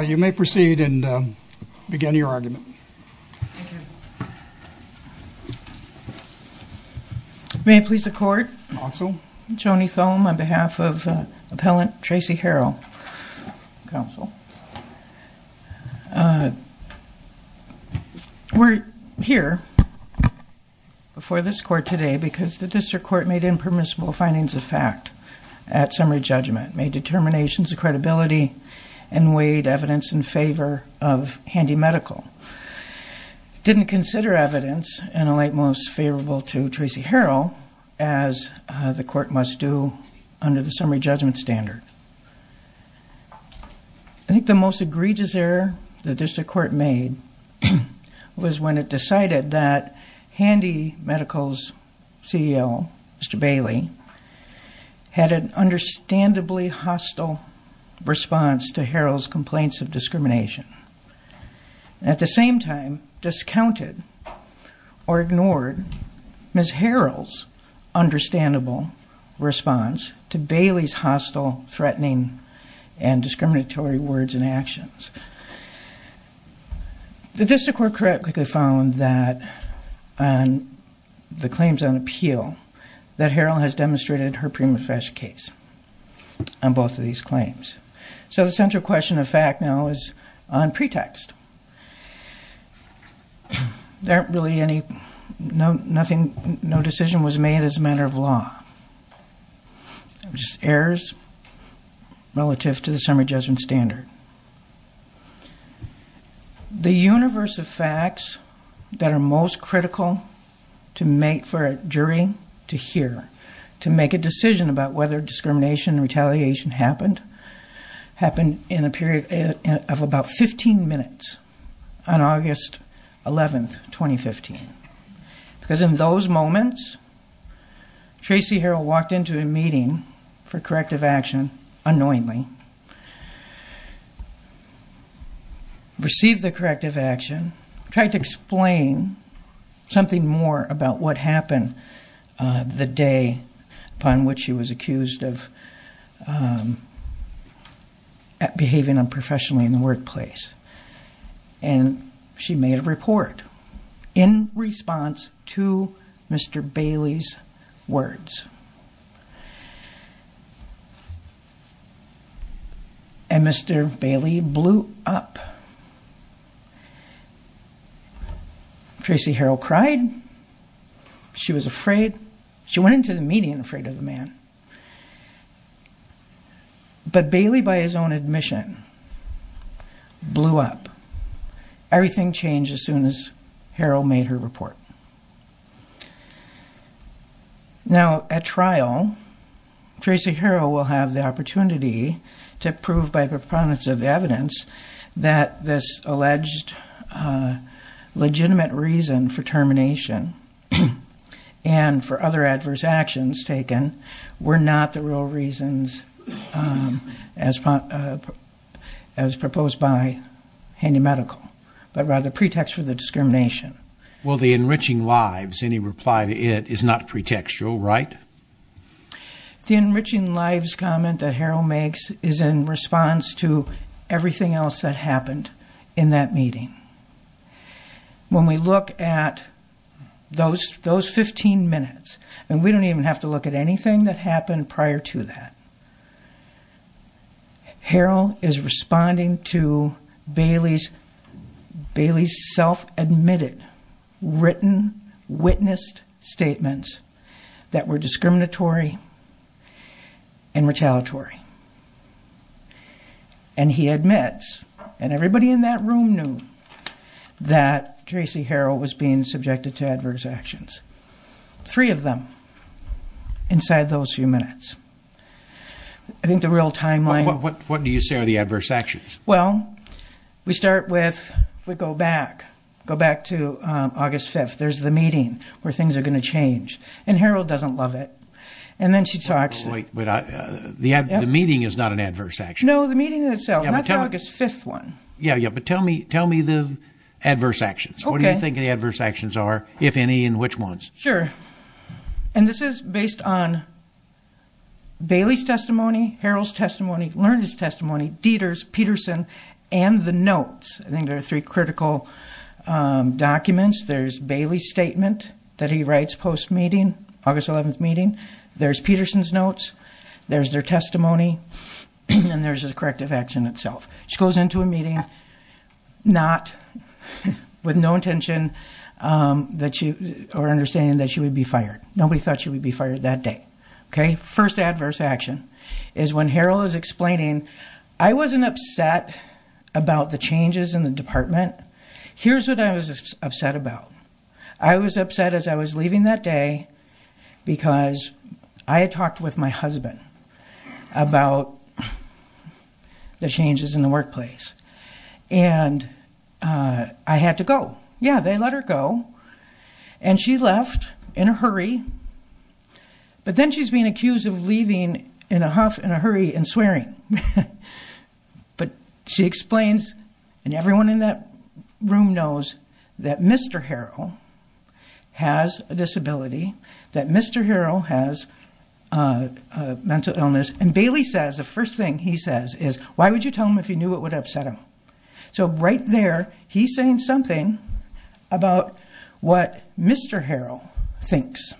You may proceed and begin your argument. May it please the Court. Counsel. Joni Thome on behalf of Appellant Tracy Harrell, Counsel. We're here before this Court today because the District Court made impermissible findings of fact at summary judgment, made determinations of credibility, and weighed evidence in favor of Handi Medical. It didn't consider evidence in a light most favorable to Tracy Harrell, as the Court must do under the summary judgment standard. I think the most egregious error the District Court made was when it decided that Handi Medical's CEO, Mr. Bailey, had an understandably hostile response to Harrell's complaints of discrimination. At the same time, discounted or ignored Ms. Harrell's understandable response to Bailey's hostile, threatening, and discriminatory words and actions. The District Court correctly found that, on the claims on appeal, that Harrell has demonstrated her prima facie case on both of these claims. So the central question of fact now is on pretext. There aren't really any, no decision was made as a matter of law. Just errors relative to the summary judgment standard. The universe of facts that are most critical for a jury to hear, to make a decision about whether discrimination and retaliation happened, happened in a period of about 15 minutes on August 11, 2015. Because in those moments, Tracy Harrell walked into a meeting for corrective action unknowingly, received the corrective action, tried to explain something more about what happened the day upon which she was accused of behaving unprofessionally in the workplace. And she made a report in response to Mr. Bailey's words. And Mr. Bailey blew up. Tracy Harrell cried. She was afraid. She went into the meeting afraid of the man. But Bailey, by his own admission, blew up. Everything changed as soon as Harrell made her report. Now, at trial, Tracy Harrell will have the opportunity to prove by proponents of evidence that this alleged legitimate reason for termination and for other adverse actions taken were not the real reasons as proposed by Handy Medical, but rather pretext for the discrimination. Well, the enriching lives, any reply to it, is not pretextual, right? The enriching lives comment that Harrell makes is in response to everything else that happened in that meeting. When we look at those 15 minutes, and we don't even have to look at anything that happened prior to that, Harrell is responding to Bailey's self-admitted, written, witnessed statements that were discriminatory and retaliatory. And he admits, and everybody in that room knew, that Tracy Harrell was being subjected to adverse actions. Three of them inside those few minutes. I think the real timeline... What do you say are the adverse actions? Well, we start with, if we go back, go back to August 5th, there's the meeting where things are going to change. And Harrell doesn't love it. And then she talks... The meeting is not an adverse action. No, the meeting in itself. And that's the August 5th one. Yeah, but tell me the adverse actions. What do you think the adverse actions are, if any, and which ones? Sure. And this is based on Bailey's testimony, Harrell's testimony, Lerner's testimony, Dieter's, Peterson's, and the notes. I think there are three critical documents. There's Bailey's statement that he writes post-meeting, August 11th meeting. There's Peterson's notes. There's their testimony. And there's the corrective action itself. She goes into a meeting, not... With no intention that she... Or understanding that she would be fired. Nobody thought she would be fired that day. Okay? First adverse action is when Harrell is explaining, I wasn't upset about the changes in the department. Here's what I was upset about. I was upset as I was leaving that day because I had talked with my husband about the changes in the workplace. And I had to go. Yeah, they let her go. And she left in a hurry. But then she's being accused of leaving in a huff, in a hurry, and swearing. But she explains, and everyone in that room knows, that Mr. Harrell has a disability. That Mr. Harrell has a mental illness. And Bailey says, the first thing he says is, why would you tell him if you knew it would upset him? So right there, he's saying something about what Mr. Harrell thinks.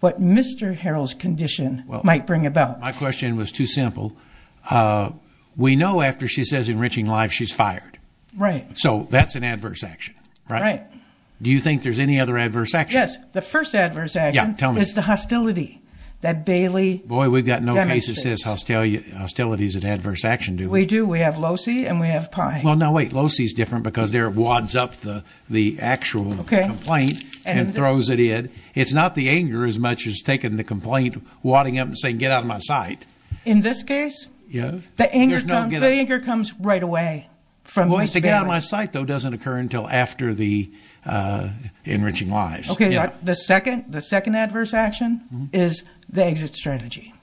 What Mr. Harrell's condition might bring about. My question was too simple. We know after she says enriching life, she's fired. Right. So that's an adverse action. Right. Do you think there's any other adverse actions? Yes. The first adverse action is the hostility that Bailey demonstrates. Boy, we've got no case that says hostility is an adverse action, do we? We do. We have Losey and we have Pye. Well, no, wait. Losey's different because there it wads up the actual complaint and throws it in. It's not the anger as much as taking the complaint, wadding up and saying, get out of my sight. In this case? Yeah. The anger comes right away from Miss Bailey. Well, to get out of my sight, though, doesn't occur until after the enriching lives. Okay. The second adverse action is the exit strategy.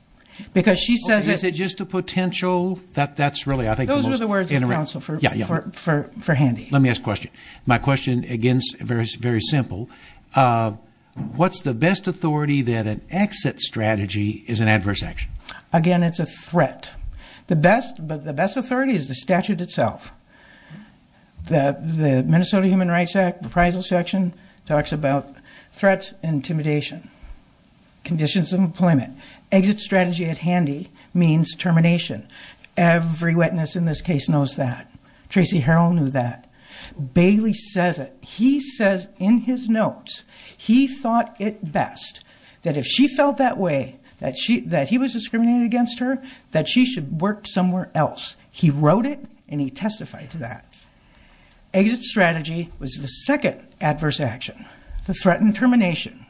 Because she says it. Is it just a potential? Those are the words of counsel for Handy. Let me ask a question. My question, again, very simple. What's the best authority that an exit strategy is an adverse action? Again, it's a threat. The best authority is the statute itself. The Minnesota Human Rights Act, the appraisal section talks about threats and intimidation, conditions of employment. Exit strategy at Handy means termination. Every witness in this case knows that. Tracy Harrell knew that. Bailey says it. He says in his notes he thought it best that if she felt that way, that he was discriminated against her, that she should work somewhere else. He wrote it, and he testified to that. Exit strategy was the second adverse action, the threat and termination.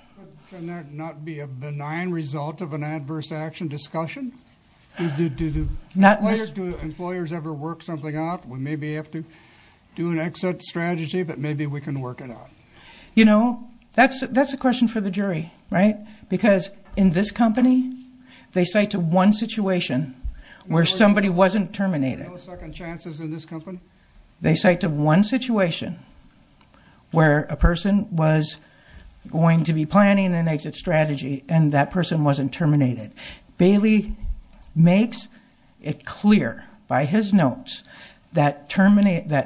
Can that not be a benign result of an adverse action discussion? Do employers ever work something out? We maybe have to do an exit strategy, but maybe we can work it out. You know, that's a question for the jury, right? Because in this company, they cite to one situation where somebody wasn't terminated. No second chances in this company? They cite to one situation where a person was going to be planning an exit strategy, and that person wasn't terminated. Bailey makes it clear by his notes that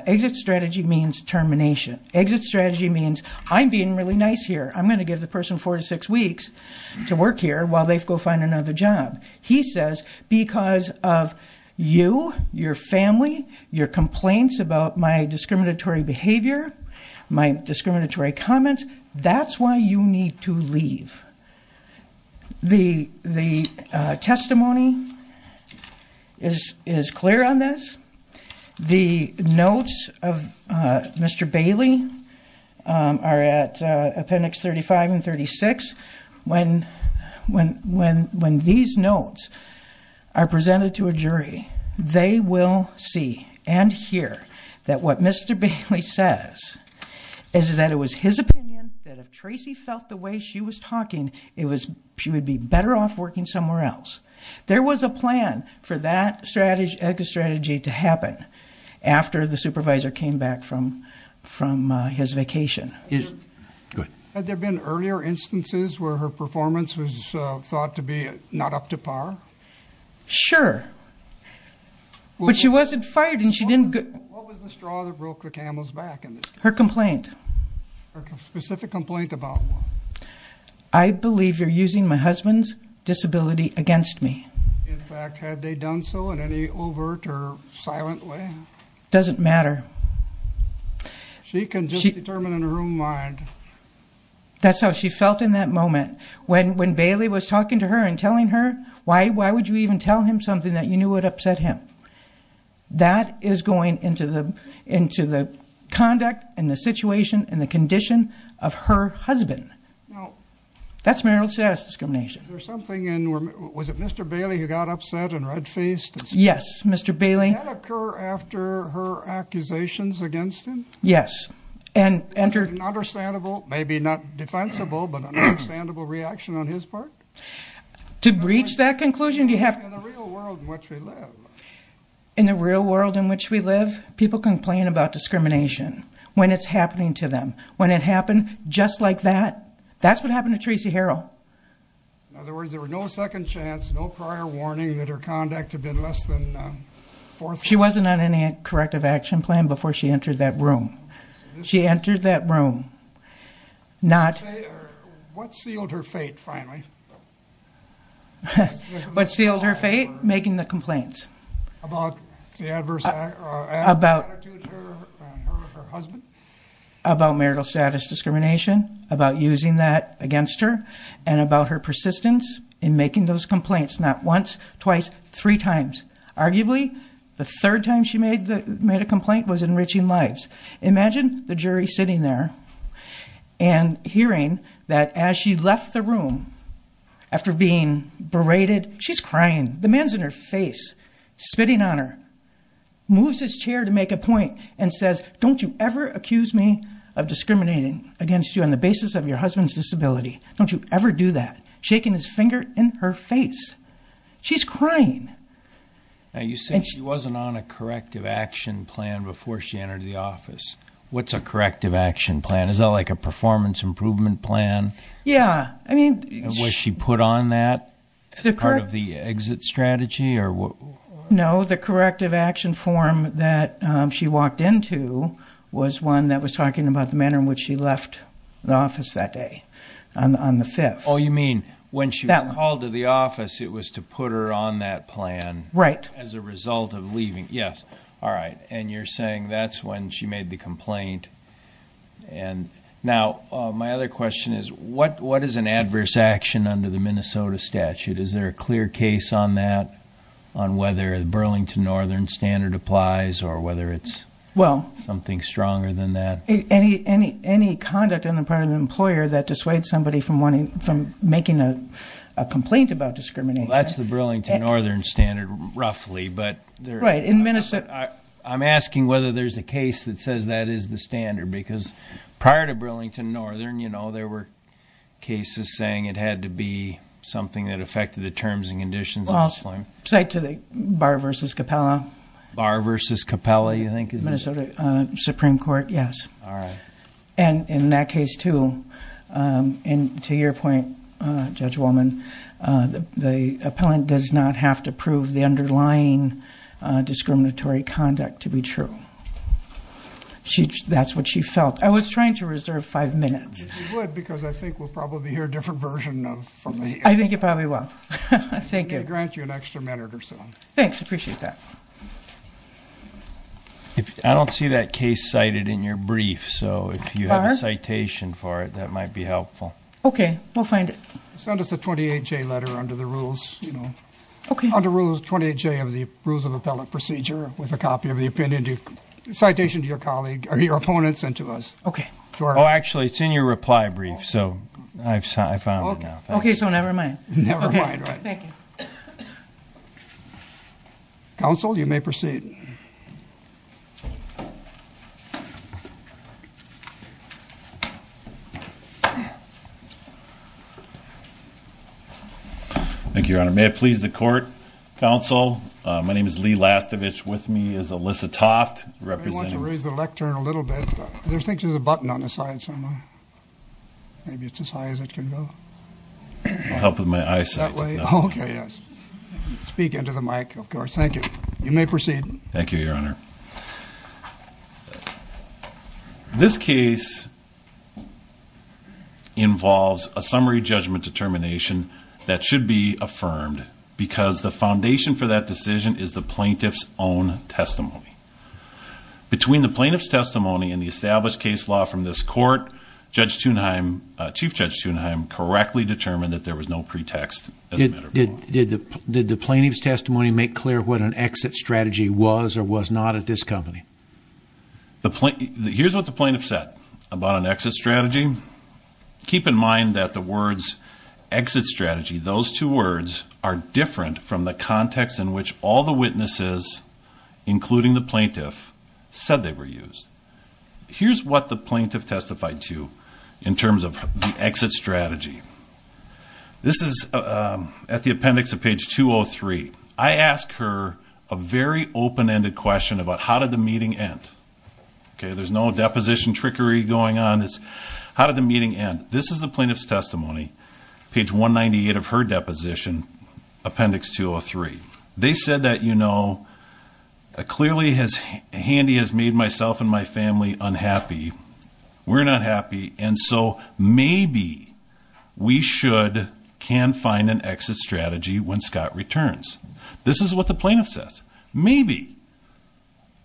exit strategy means termination. Exit strategy means I'm being really nice here. I'm going to give the person four to six weeks to work here while they go find another job. He says because of you, your family, your complaints about my discriminatory behavior, my discriminatory comments, that's why you need to leave. The testimony is clear on this. The notes of Mr. Bailey are at appendix 35 and 36. When these notes are presented to a jury, they will see and hear that what Mr. Bailey says is that it was his opinion that if Tracy felt the way she was talking, she would be better off working somewhere else. There was a plan for that exit strategy to happen after the supervisor came back from his vacation. Had there been earlier instances where her performance was thought to be not up to par? Sure. But she wasn't fired and she didn't- What was the straw that broke the camel's back in this case? Her complaint. Her specific complaint about what? I believe you're using my husband's disability against me. In fact, had they done so in any overt or silent way? Doesn't matter. She can just determine in her own mind. That's how she felt in that moment. When Bailey was talking to her and telling her, why would you even tell him something that you knew would upset him? That is going into the conduct and the situation and the condition of her husband. That's marital status discrimination. Was it Mr. Bailey who got upset and red-faced? Yes, Mr. Bailey. Did that occur after her accusations against him? Yes. Entered an understandable, maybe not defensible, but an understandable reaction on his part? To reach that conclusion, you have- In the real world in which we live. In the real world in which we live, people complain about discrimination when it's happening to them. When it happened just like that, that's what happened to Tracy Harrell. In other words, there was no second chance, no prior warning that her conduct had been less than forthright? She wasn't on any corrective action plan before she entered that room. She entered that room not- What sealed her fate, finally? What sealed her fate? Making the complaints. About the adverse attitude toward her and her husband? About marital status discrimination, about using that against her, and about her persistence in making those complaints. Not once, twice, three times. Arguably, the third time she made a complaint was enriching lives. Imagine the jury sitting there and hearing that as she left the room, after being berated, she's crying. The man's in her face, spitting on her. Moves his chair to make a point and says, Don't you ever accuse me of discriminating against you on the basis of your husband's disability. Don't you ever do that. Shaking his finger in her face. She's crying. You said she wasn't on a corrective action plan before she entered the office. What's a corrective action plan? Is that like a performance improvement plan? Yeah. Was she put on that as part of the exit strategy? No. The corrective action form that she walked into was one that was talking about the manner in which she left the office that day. On the 5th. Oh, you mean when she was called to the office, it was to put her on that plan. Right. As a result of leaving. Yes. All right. And you're saying that's when she made the complaint. Now, my other question is, what is an adverse action under the Minnesota statute? Is there a clear case on that, on whether the Burlington Northern standard applies or whether it's something stronger than that? Any conduct on the part of the employer that dissuades somebody from making a complaint about discrimination. Well, that's the Burlington Northern standard, roughly. Right. I'm asking whether there's a case that says that is the standard. Because prior to Burlington Northern, you know, there were cases saying it had to be something that affected the terms and conditions of the claim. Well, say to the Barr v. Capella. Barr v. Capella, you think? Minnesota Supreme Court, yes. All right. And in that case, too, and to your point, Judge Wolman, the appellant does not have to prove the underlying discriminatory conduct to be true. That's what she felt. I was trying to reserve five minutes. You would, because I think we'll probably hear a different version from the hearing. I think it probably will. Thank you. I'm going to grant you an extra minute or so. Thanks. I appreciate that. I don't see that case cited in your brief, so if you have a citation for it, that might be helpful. Okay. We'll find it. Send us a 28-J letter under the rules, you know. Okay. Under Rules 28-J of the Rules of Appellant Procedure with a copy of the opinion, citation to your colleague or your opponent sent to us. Okay. Oh, actually, it's in your reply brief, so I found it now. Okay, so never mind. Never mind, right. Thank you. Counsel, you may proceed. Thank you, Your Honor. May it please the Court, Counsel, my name is Lee Lastovich. With me is Alyssa Toft. I want to raise the lectern a little bit. There seems to be a button on the side somewhere. Maybe it's as high as it can go. I'll help with my eyesight. Oh, okay, yes. Speak into the mic, of course. Thank you. You may proceed. Thank you, Your Honor. This case involves a summary judgment determination that should be affirmed because the foundation for that decision is the plaintiff's own testimony. Between the plaintiff's testimony and the established case law from this Court, Judge Thunheim, Chief Judge Thunheim, correctly determined that there was no pretext. Did the plaintiff's testimony make clear what an exit strategy was or was not at this company? Here's what the plaintiff said about an exit strategy. Keep in mind that the words exit strategy, those two words, are different from the context in which all the witnesses, including the plaintiff, said they were used. Here's what the plaintiff testified to in terms of the exit strategy. This is at the appendix of page 203. I asked her a very open-ended question about how did the meeting end. Okay, there's no deposition trickery going on. It's how did the meeting end. This is the plaintiff's testimony, page 198 of her deposition, appendix 203. They said that, you know, clearly Handy has made myself and my family unhappy. We're not happy, and so maybe we should, can find an exit strategy when Scott returns. This is what the plaintiff says. Maybe.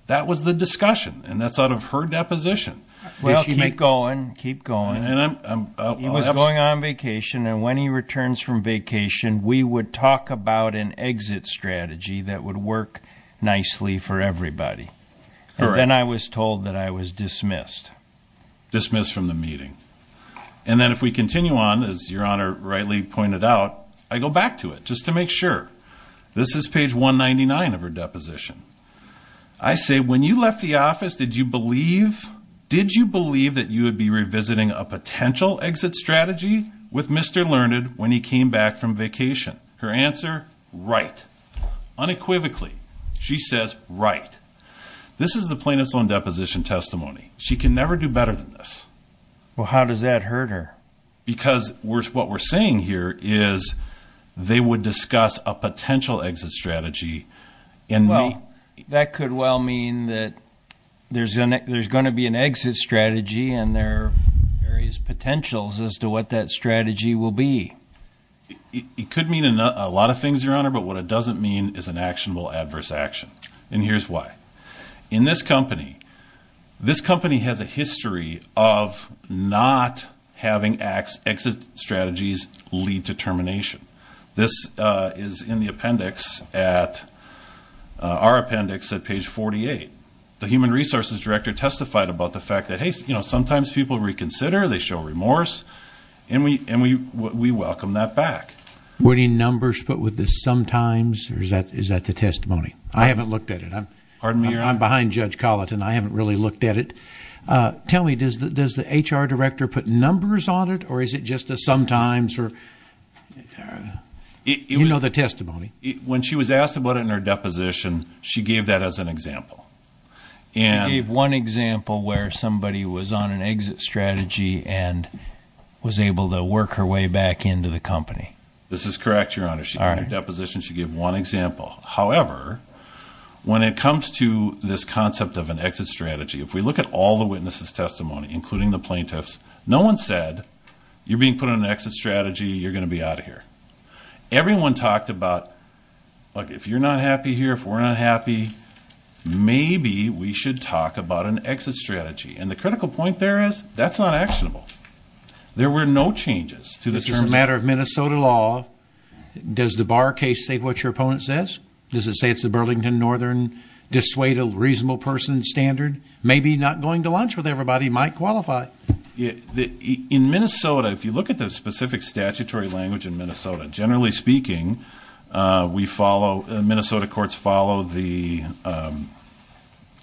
That was the discussion, and that's out of her deposition. Well, keep going, keep going. He was going on vacation, and when he returns from vacation, we would talk about an exit strategy that would work nicely for everybody. Correct. And then I was told that I was dismissed. Dismissed from the meeting. And then if we continue on, as Your Honor rightly pointed out, I go back to it just to make sure. This is page 199 of her deposition. I say, when you left the office, did you believe, did you believe that you would be revisiting a potential exit strategy with Mr. Learned when he came back from vacation? Her answer, right. Unequivocally, she says, right. This is the plaintiff's own deposition testimony. She can never do better than this. Well, how does that hurt her? Because what we're saying here is they would discuss a potential exit strategy. Well, that could well mean that there's going to be an exit strategy, and there are various potentials as to what that strategy will be. It could mean a lot of things, Your Honor, but what it doesn't mean is an actionable adverse action. And here's why. In this company, this company has a history of not having exit strategies lead to termination. This is in the appendix at, our appendix at page 48. The human resources director testified about the fact that, hey, you know, sometimes people reconsider, they show remorse, and we welcome that back. Were any numbers put with the sometimes, or is that the testimony? I haven't looked at it. Pardon me, Your Honor? I'm behind Judge Colleton. I haven't really looked at it. Tell me, does the HR director put numbers on it, or is it just a sometimes? You know the testimony. When she was asked about it in her deposition, she gave that as an example. She gave one example where somebody was on an exit strategy and was able to work her way back into the company. This is correct, Your Honor. In her deposition, she gave one example. However, when it comes to this concept of an exit strategy, if we look at all the witnesses' testimony, including the plaintiffs, no one said, you're being put on an exit strategy, you're going to be out of here. Everyone talked about, look, if you're not happy here, if we're not happy, maybe we should talk about an exit strategy. And the critical point there is, that's not actionable. There were no changes to the terms. This is a matter of Minnesota law. Does the Barr case state what your opponent says? Does it say it's the Burlington Northern dissuade a reasonable person standard? Maybe not going to lunch with everybody might qualify. In Minnesota, if you look at the specific statutory language in Minnesota, generally speaking, we follow, Minnesota courts follow the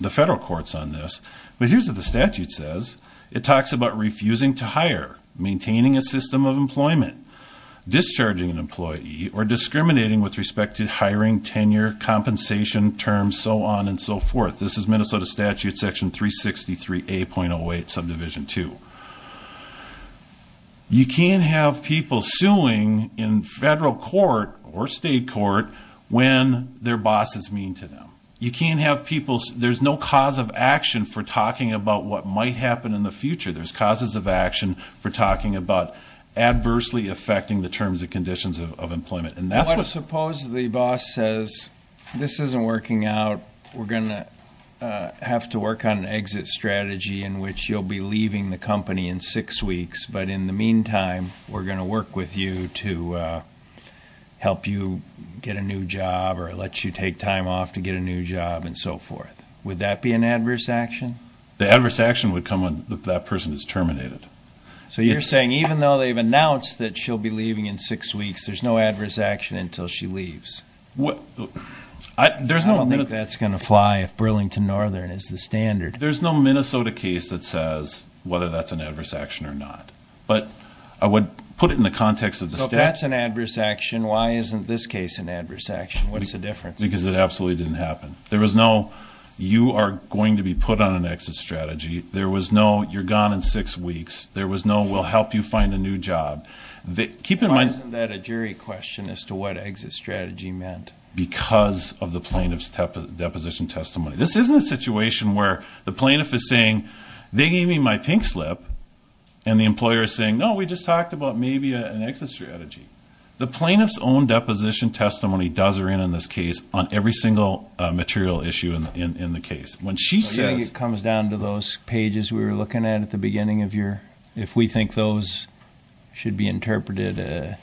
federal courts on this. But here's what the statute says. It talks about refusing to hire, maintaining a system of employment, discharging an employee, or discriminating with respect to hiring, tenure, compensation, terms, so on and so forth. This is Minnesota statute section 363A.08 subdivision 2. You can't have people suing in federal court or state court when their boss is mean to them. You can't have people, there's no cause of action for talking about what might happen in the future. There's causes of action for talking about adversely affecting the terms and conditions of employment. Suppose the boss says, this isn't working out. We're going to have to work on an exit strategy in which you'll be leaving the company in six weeks. But in the meantime, we're going to work with you to help you get a new job or let you take time off to get a new job and so forth. Would that be an adverse action? The adverse action would come when that person is terminated. So you're saying even though they've announced that she'll be leaving in six weeks, there's no adverse action until she leaves? I don't think that's going to fly if Burlington Northern is the standard. There's no Minnesota case that says whether that's an adverse action or not. But I would put it in the context of the statute. If that's an adverse action, why isn't this case an adverse action? What's the difference? Because it absolutely didn't happen. There was no, you are going to be put on an exit strategy. There was no, you're gone in six weeks. There was no, we'll help you find a new job. Why isn't that a jury question as to what exit strategy meant? Because of the plaintiff's deposition testimony. This isn't a situation where the plaintiff is saying, they gave me my pink slip. And the employer is saying, no, we just talked about maybe an exit strategy. The plaintiff's own deposition testimony does her in on this case on every single material issue in the case. It comes down to those pages we were looking at at the beginning of your, if we think those should be interpreted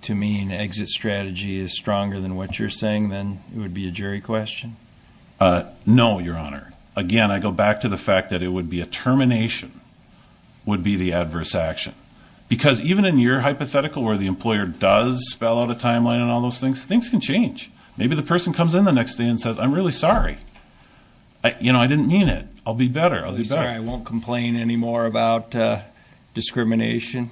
to mean exit strategy is stronger than what you're saying, then it would be a jury question? No, Your Honor. Again, I go back to the fact that it would be a termination would be the adverse action. Because even in your hypothetical where the employer does spell out a timeline and all those things, things can change. Maybe the person comes in the next day and says, I'm really sorry. I didn't mean it. I'll be better. I'll do better. I won't complain anymore about discrimination.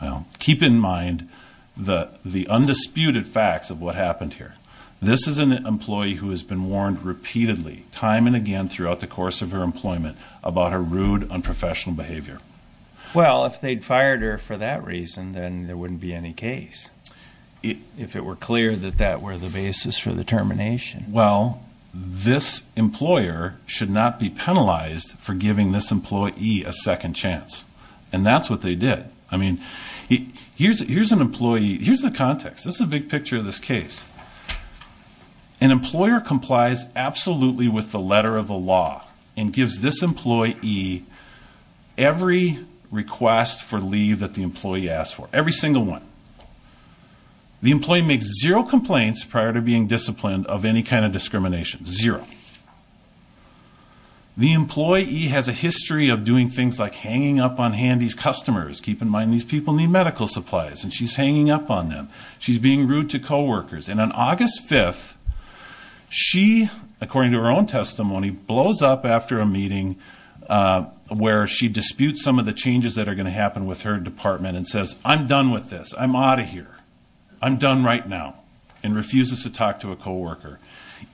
Well, keep in mind the undisputed facts of what happened here. This is an employee who has been warned repeatedly time and again throughout the course of her employment about her rude, unprofessional behavior. Well, if they'd fired her for that reason, then there wouldn't be any case. If it were clear that that were the basis for the termination. Well, this employer should not be penalized for giving this employee a second chance. And that's what they did. I mean, here's an employee. Here's the context. This is a big picture of this case. An employer complies absolutely with the letter of the law and gives this employee every request for leave that the employee asked for. Every single one. The employee makes zero complaints prior to being disciplined of any kind of discrimination. Zero. The employee has a history of doing things like hanging up on Handy's customers. Keep in mind, these people need medical supplies, and she's hanging up on them. She's being rude to coworkers. And on August 5th, she, according to her own testimony, blows up after a meeting where she disputes some of the changes that are going to happen with her department and says, I'm done with this. I'm out of here. I'm done right now. And refuses to talk to a coworker.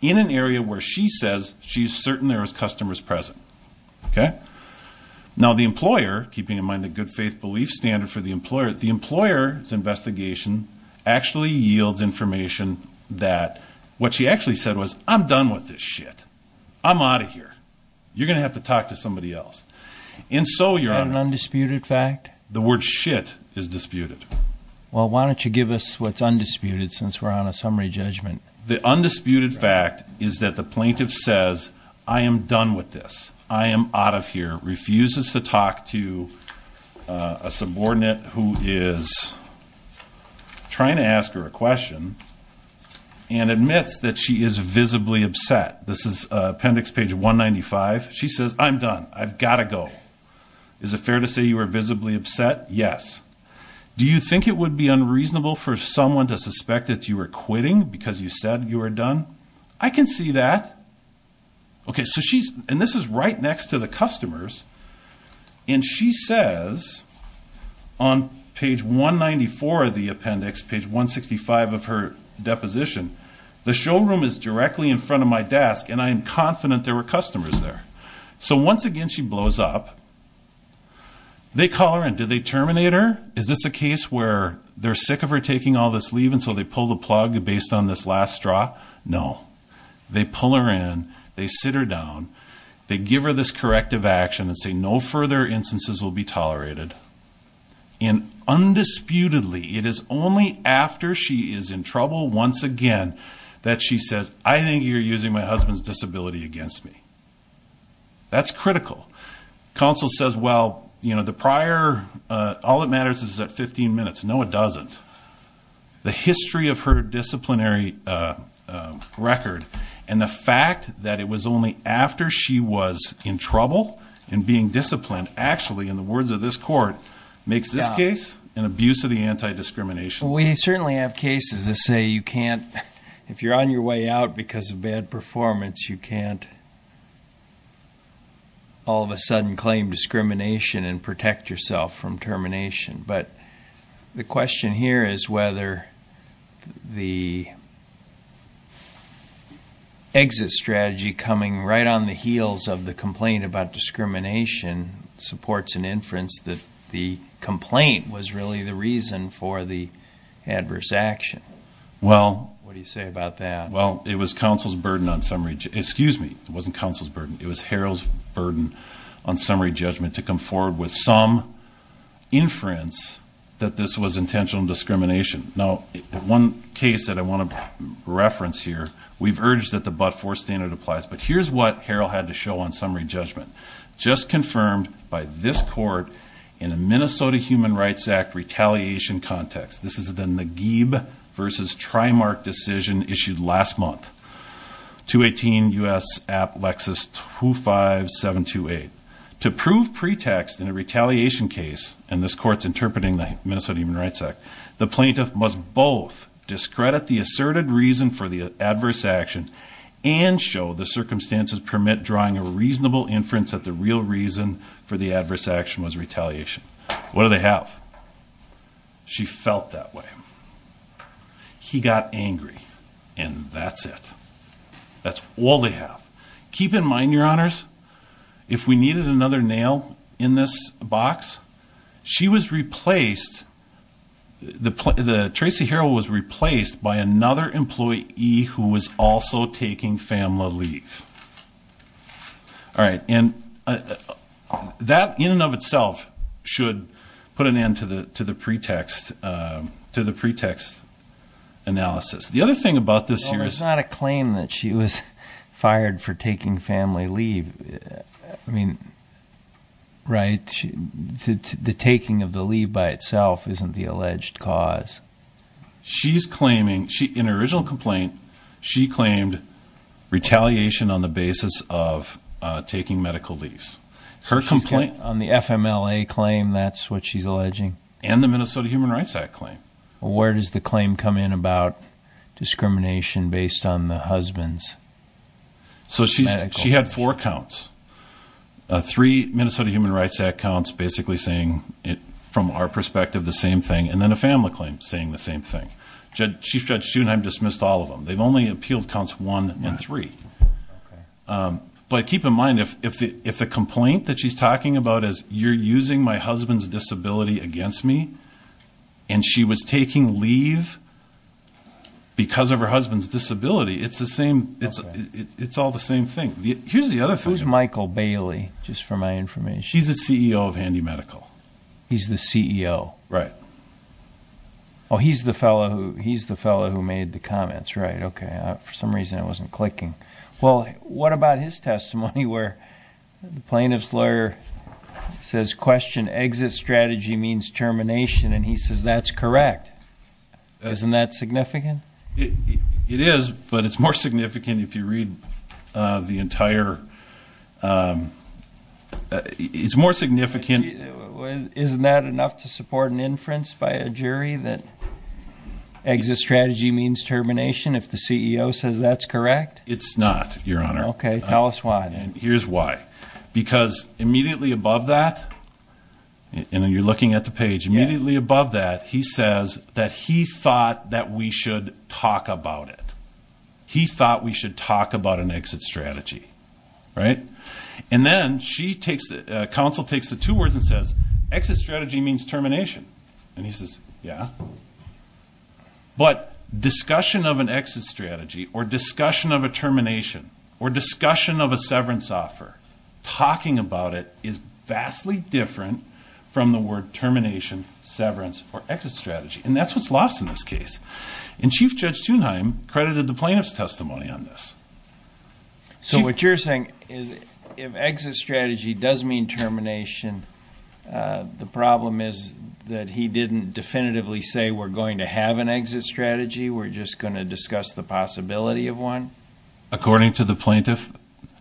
In an area where she says she's certain there was customers present. Now, the employer, keeping in mind the good faith belief standard for the employer, the employer's investigation actually yields information that what she actually said was, I'm done with this shit. I'm out of here. You're going to have to talk to somebody else. And so, Your Honor. Is that an undisputed fact? The word shit is disputed. Well, why don't you give us what's undisputed since we're on a summary judgment. The undisputed fact is that the plaintiff says, I am done with this. I am out of here. Refuses to talk to a subordinate who is trying to ask her a question. And admits that she is visibly upset. This is appendix page 195. She says, I'm done. I've got to go. Is it fair to say you are visibly upset? Yes. Do you think it would be unreasonable for someone to suspect that you are quitting because you said you were done? I can see that. And this is right next to the customers. And she says, on page 194 of the appendix, page 165 of her deposition, the showroom is directly in front of my desk and I am confident there were customers there. So, once again, she blows up. They call her in. Do they terminate her? Is this a case where they're sick of her taking all this leave and so they pull the plug based on this last straw? No. They pull her in. They sit her down. They give her this corrective action and say no further instances will be tolerated. And undisputedly, it is only after she is in trouble once again that she says, I think you're using my husband's disability against me. That's critical. Counsel says, well, you know, the prior, all that matters is that 15 minutes. No, it doesn't. The history of her disciplinary record and the fact that it was only after she was in trouble and being disciplined actually, in the words of this court, makes this case an abuse of the anti-discrimination act. We certainly have cases that say you can't, if you're on your way out because of bad performance, you can't all of a sudden claim discrimination and protect yourself from termination. But the question here is whether the exit strategy coming right on the heels of the complaint about discrimination supports an inference that the complaint was really the reason for the adverse action. What do you say about that? Well, it was counsel's burden on summary judgment. It was Harold's burden on summary judgment to come forward with some inference that this was intentional discrimination. Now, one case that I want to reference here, we've urged that the but-for standard applies, but here's what Harold had to show on summary judgment. Just confirmed by this court in a Minnesota Human Rights Act retaliation context. This is the Nagib v. Trimark decision issued last month, 218 U.S. App Lexus 25728. To prove pretext in a retaliation case, and this court's interpreting the Minnesota Human Rights Act, the plaintiff must both discredit the asserted reason for the adverse action and show the circumstances permit drawing a reasonable inference that the real reason for the adverse action was retaliation. What do they have? She felt that way. He got angry. And that's it. That's all they have. Keep in mind, Your Honors, if we needed another nail in this box, she was replaced, Tracy Harold was replaced by another employee who was also taking family leave. All right. And that in and of itself should put an end to the pretext analysis. The other thing about this here is... Well, it's not a claim that she was fired for taking family leave. I mean, right? The taking of the leave by itself isn't the alleged cause. In her original complaint, she claimed retaliation on the basis of taking medical leave. On the FMLA claim, that's what she's alleging? And the Minnesota Human Rights Act claim. Well, where does the claim come in about discrimination based on the husband's medical leave? So she had four counts. Three Minnesota Human Rights Act counts basically saying, from our perspective, the same thing. And then a family claim saying the same thing. Chief Judge Schoenheim dismissed all of them. They've only appealed counts one and three. But keep in mind, if the complaint that she's talking about is, you're using my husband's disability against me, and she was taking leave because of her husband's disability, it's all the same thing. Who's Michael Bailey, just for my information? He's the CEO of Handy Medical. He's the CEO. Right. Oh, he's the fellow who made the comments, right. Okay, for some reason I wasn't clicking. Well, what about his testimony where the plaintiff's lawyer says, question, exit strategy means termination, and he says, that's correct. Isn't that significant? It is, but it's more significant if you read the entire ‑‑ it's more significant. Isn't that enough to support an inference by a jury that exit strategy means termination if the CEO says that's correct? It's not, Your Honor. Okay, tell us why. Here's why. Because immediately above that, and you're looking at the page, immediately above that he says that he thought that we should talk about it. He thought we should talk about an exit strategy, right. And then counsel takes the two words and says, exit strategy means termination. And he says, yeah. But discussion of an exit strategy or discussion of a termination or discussion of a severance offer, talking about it is vastly different from the word termination, severance, or exit strategy. And that's what's lost in this case. And Chief Judge Thunheim credited the plaintiff's testimony on this. So what you're saying is if exit strategy does mean termination, the problem is that he didn't definitively say we're going to have an exit strategy, we're just going to discuss the possibility of one? According to the plaintiff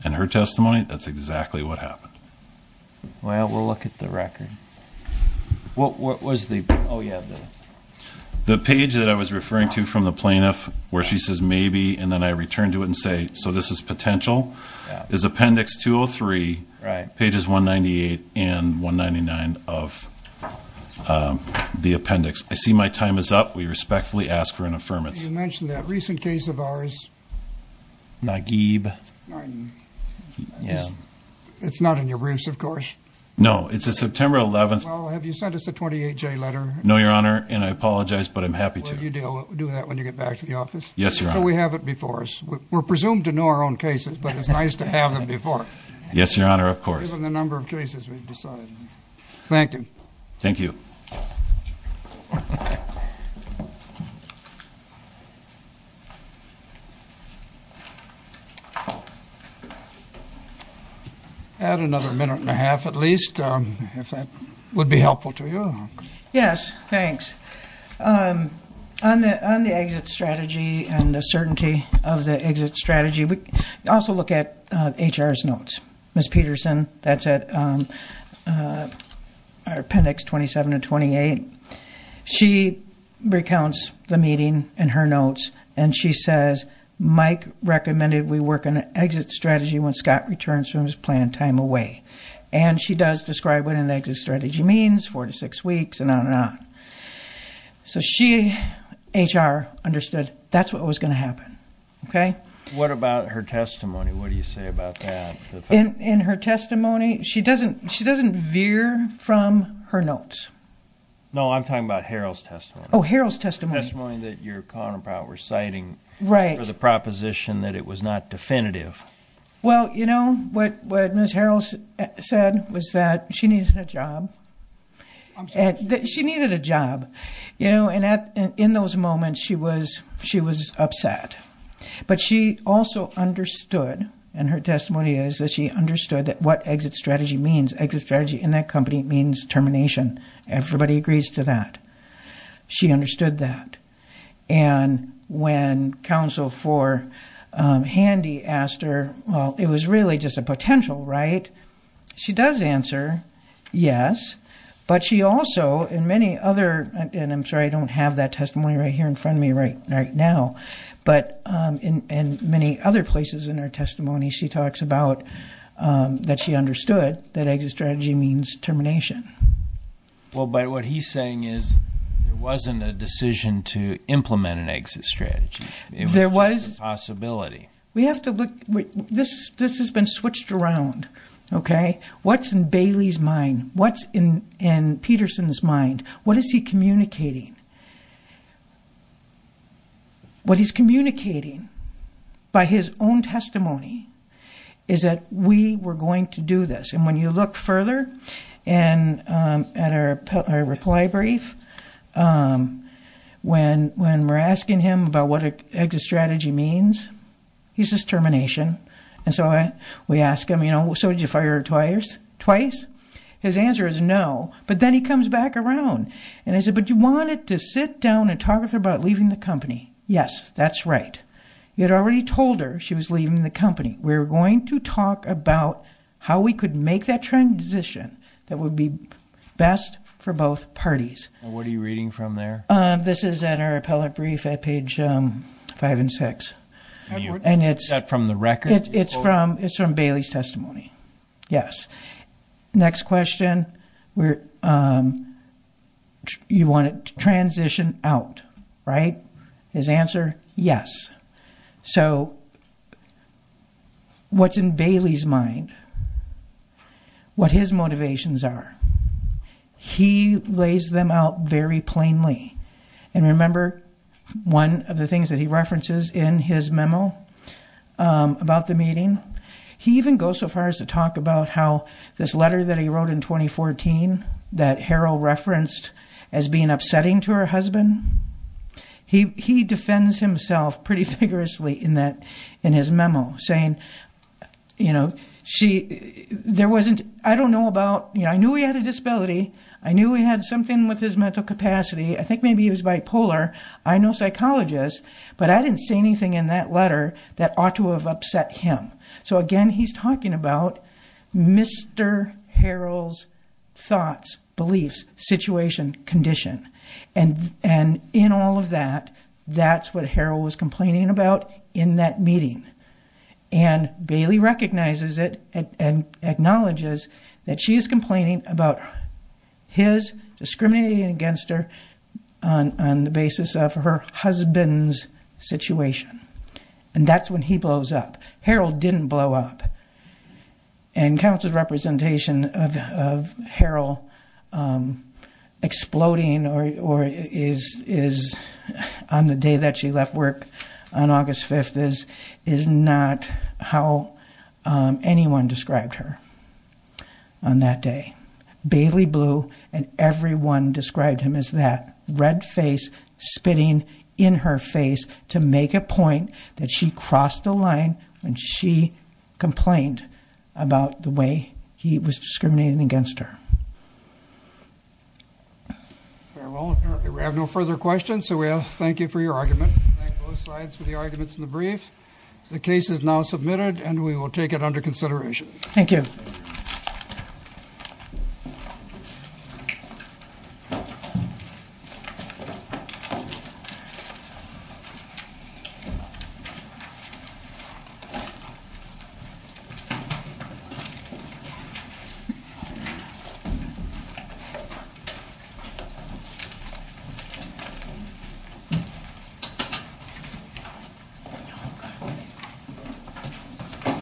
and her testimony, that's exactly what happened. Well, we'll look at the record. What was the ‑‑ oh, yeah. The page that I was referring to from the plaintiff where she says maybe and then I return to it and say, so this is potential, is appendix 203, pages 198 and 199 of the appendix. I see my time is up. We respectfully ask for an affirmance. You mentioned that recent case of ours. Nagib. It's not in your briefs, of course. No, it's a September 11th. Well, have you sent us a 28J letter? No, Your Honor, and I apologize, but I'm happy to. Will you do that when you get back to the office? Yes, Your Honor. So we have it before us. We're presumed to know our own cases, but it's nice to have them before us. Yes, Your Honor, of course. Given the number of cases we've decided. Thank you. Thank you. Add another minute and a half at least, if that would be helpful to you. Yes, thanks. On the exit strategy and the certainty of the exit strategy, we also look at HR's notes. Ms. Peterson, that's at appendix 27 and 28. She recounts the meeting and her notes, and she says, Mike recommended we work on an exit strategy when Scott returns from his planned time away. And she does describe what an exit strategy means, four to six weeks, and on and on. So she, HR, understood that's what was going to happen. Okay? What about her testimony? What do you say about that? In her testimony, she doesn't veer from her notes. No, I'm talking about Harold's testimony. Oh, Harold's testimony. The testimony that your counterpart was citing. Right. For the proposition that it was not definitive. Well, you know, what Ms. Harold said was that she needed a job. She needed a job. And in those moments, she was upset. But she also understood, in her testimony, is that she understood what exit strategy means. Exit strategy in that company means termination. Everybody agrees to that. She understood that. And when counsel for Handy asked her, well, it was really just a potential, right? She does answer yes. But she also, in many other, and I'm sorry, I don't have that testimony right here in front of me right now, but in many other places in her testimony, she talks about that she understood that exit strategy means termination. Well, but what he's saying is it wasn't a decision to implement an exit strategy. It was just a possibility. We have to look. This has been switched around, okay? What's in Bailey's mind? What's in Peterson's mind? What is he communicating? What he's communicating by his own testimony is that we were going to do this. And when you look further at our reply brief, when we're asking him about what exit strategy means, he says termination. And so we ask him, you know, so did you fire her twice? His answer is no. But then he comes back around, and I said, but you wanted to sit down and talk with her about leaving the company. Yes, that's right. You had already told her she was leaving the company. We're going to talk about how we could make that transition that would be best for both parties. And what are you reading from there? This is in our appellate brief at page 5 and 6. Is that from the record? It's from Bailey's testimony, yes. Next question, you want it to transition out, right? His answer, yes. So what's in Bailey's mind, what his motivations are, he lays them out very plainly. And remember, one of the things that he references in his memo about the meeting, he even goes so far as to talk about how this letter that he wrote in 2014 that Harold referenced as being upsetting to her husband, he defends himself pretty vigorously in his memo saying, I don't know about, I knew he had a disability. I knew he had something with his mental capacity. I think maybe he was bipolar. I know psychologists, but I didn't see anything in that letter that ought to have upset him. So again, he's talking about Mr. Harold's thoughts, beliefs, situation, condition. And in all of that, that's what Harold was complaining about in that meeting. And Bailey recognizes it and acknowledges that she is complaining about his discriminating against her on the basis of her husband's situation. And that's when he blows up. Harold didn't blow up. And counsel's representation of Harold exploding on the day that she left work on August 5th is not how anyone described her on that day. Bailey blew, and everyone described him as that, red face spitting in her face to make a point that she crossed the line when she complained about the way he was discriminating against her. Very well. We have no further questions, so we thank you for your argument. Thank both sides for the arguments in the brief. The case is now submitted, and we will take it under consideration. Thank you.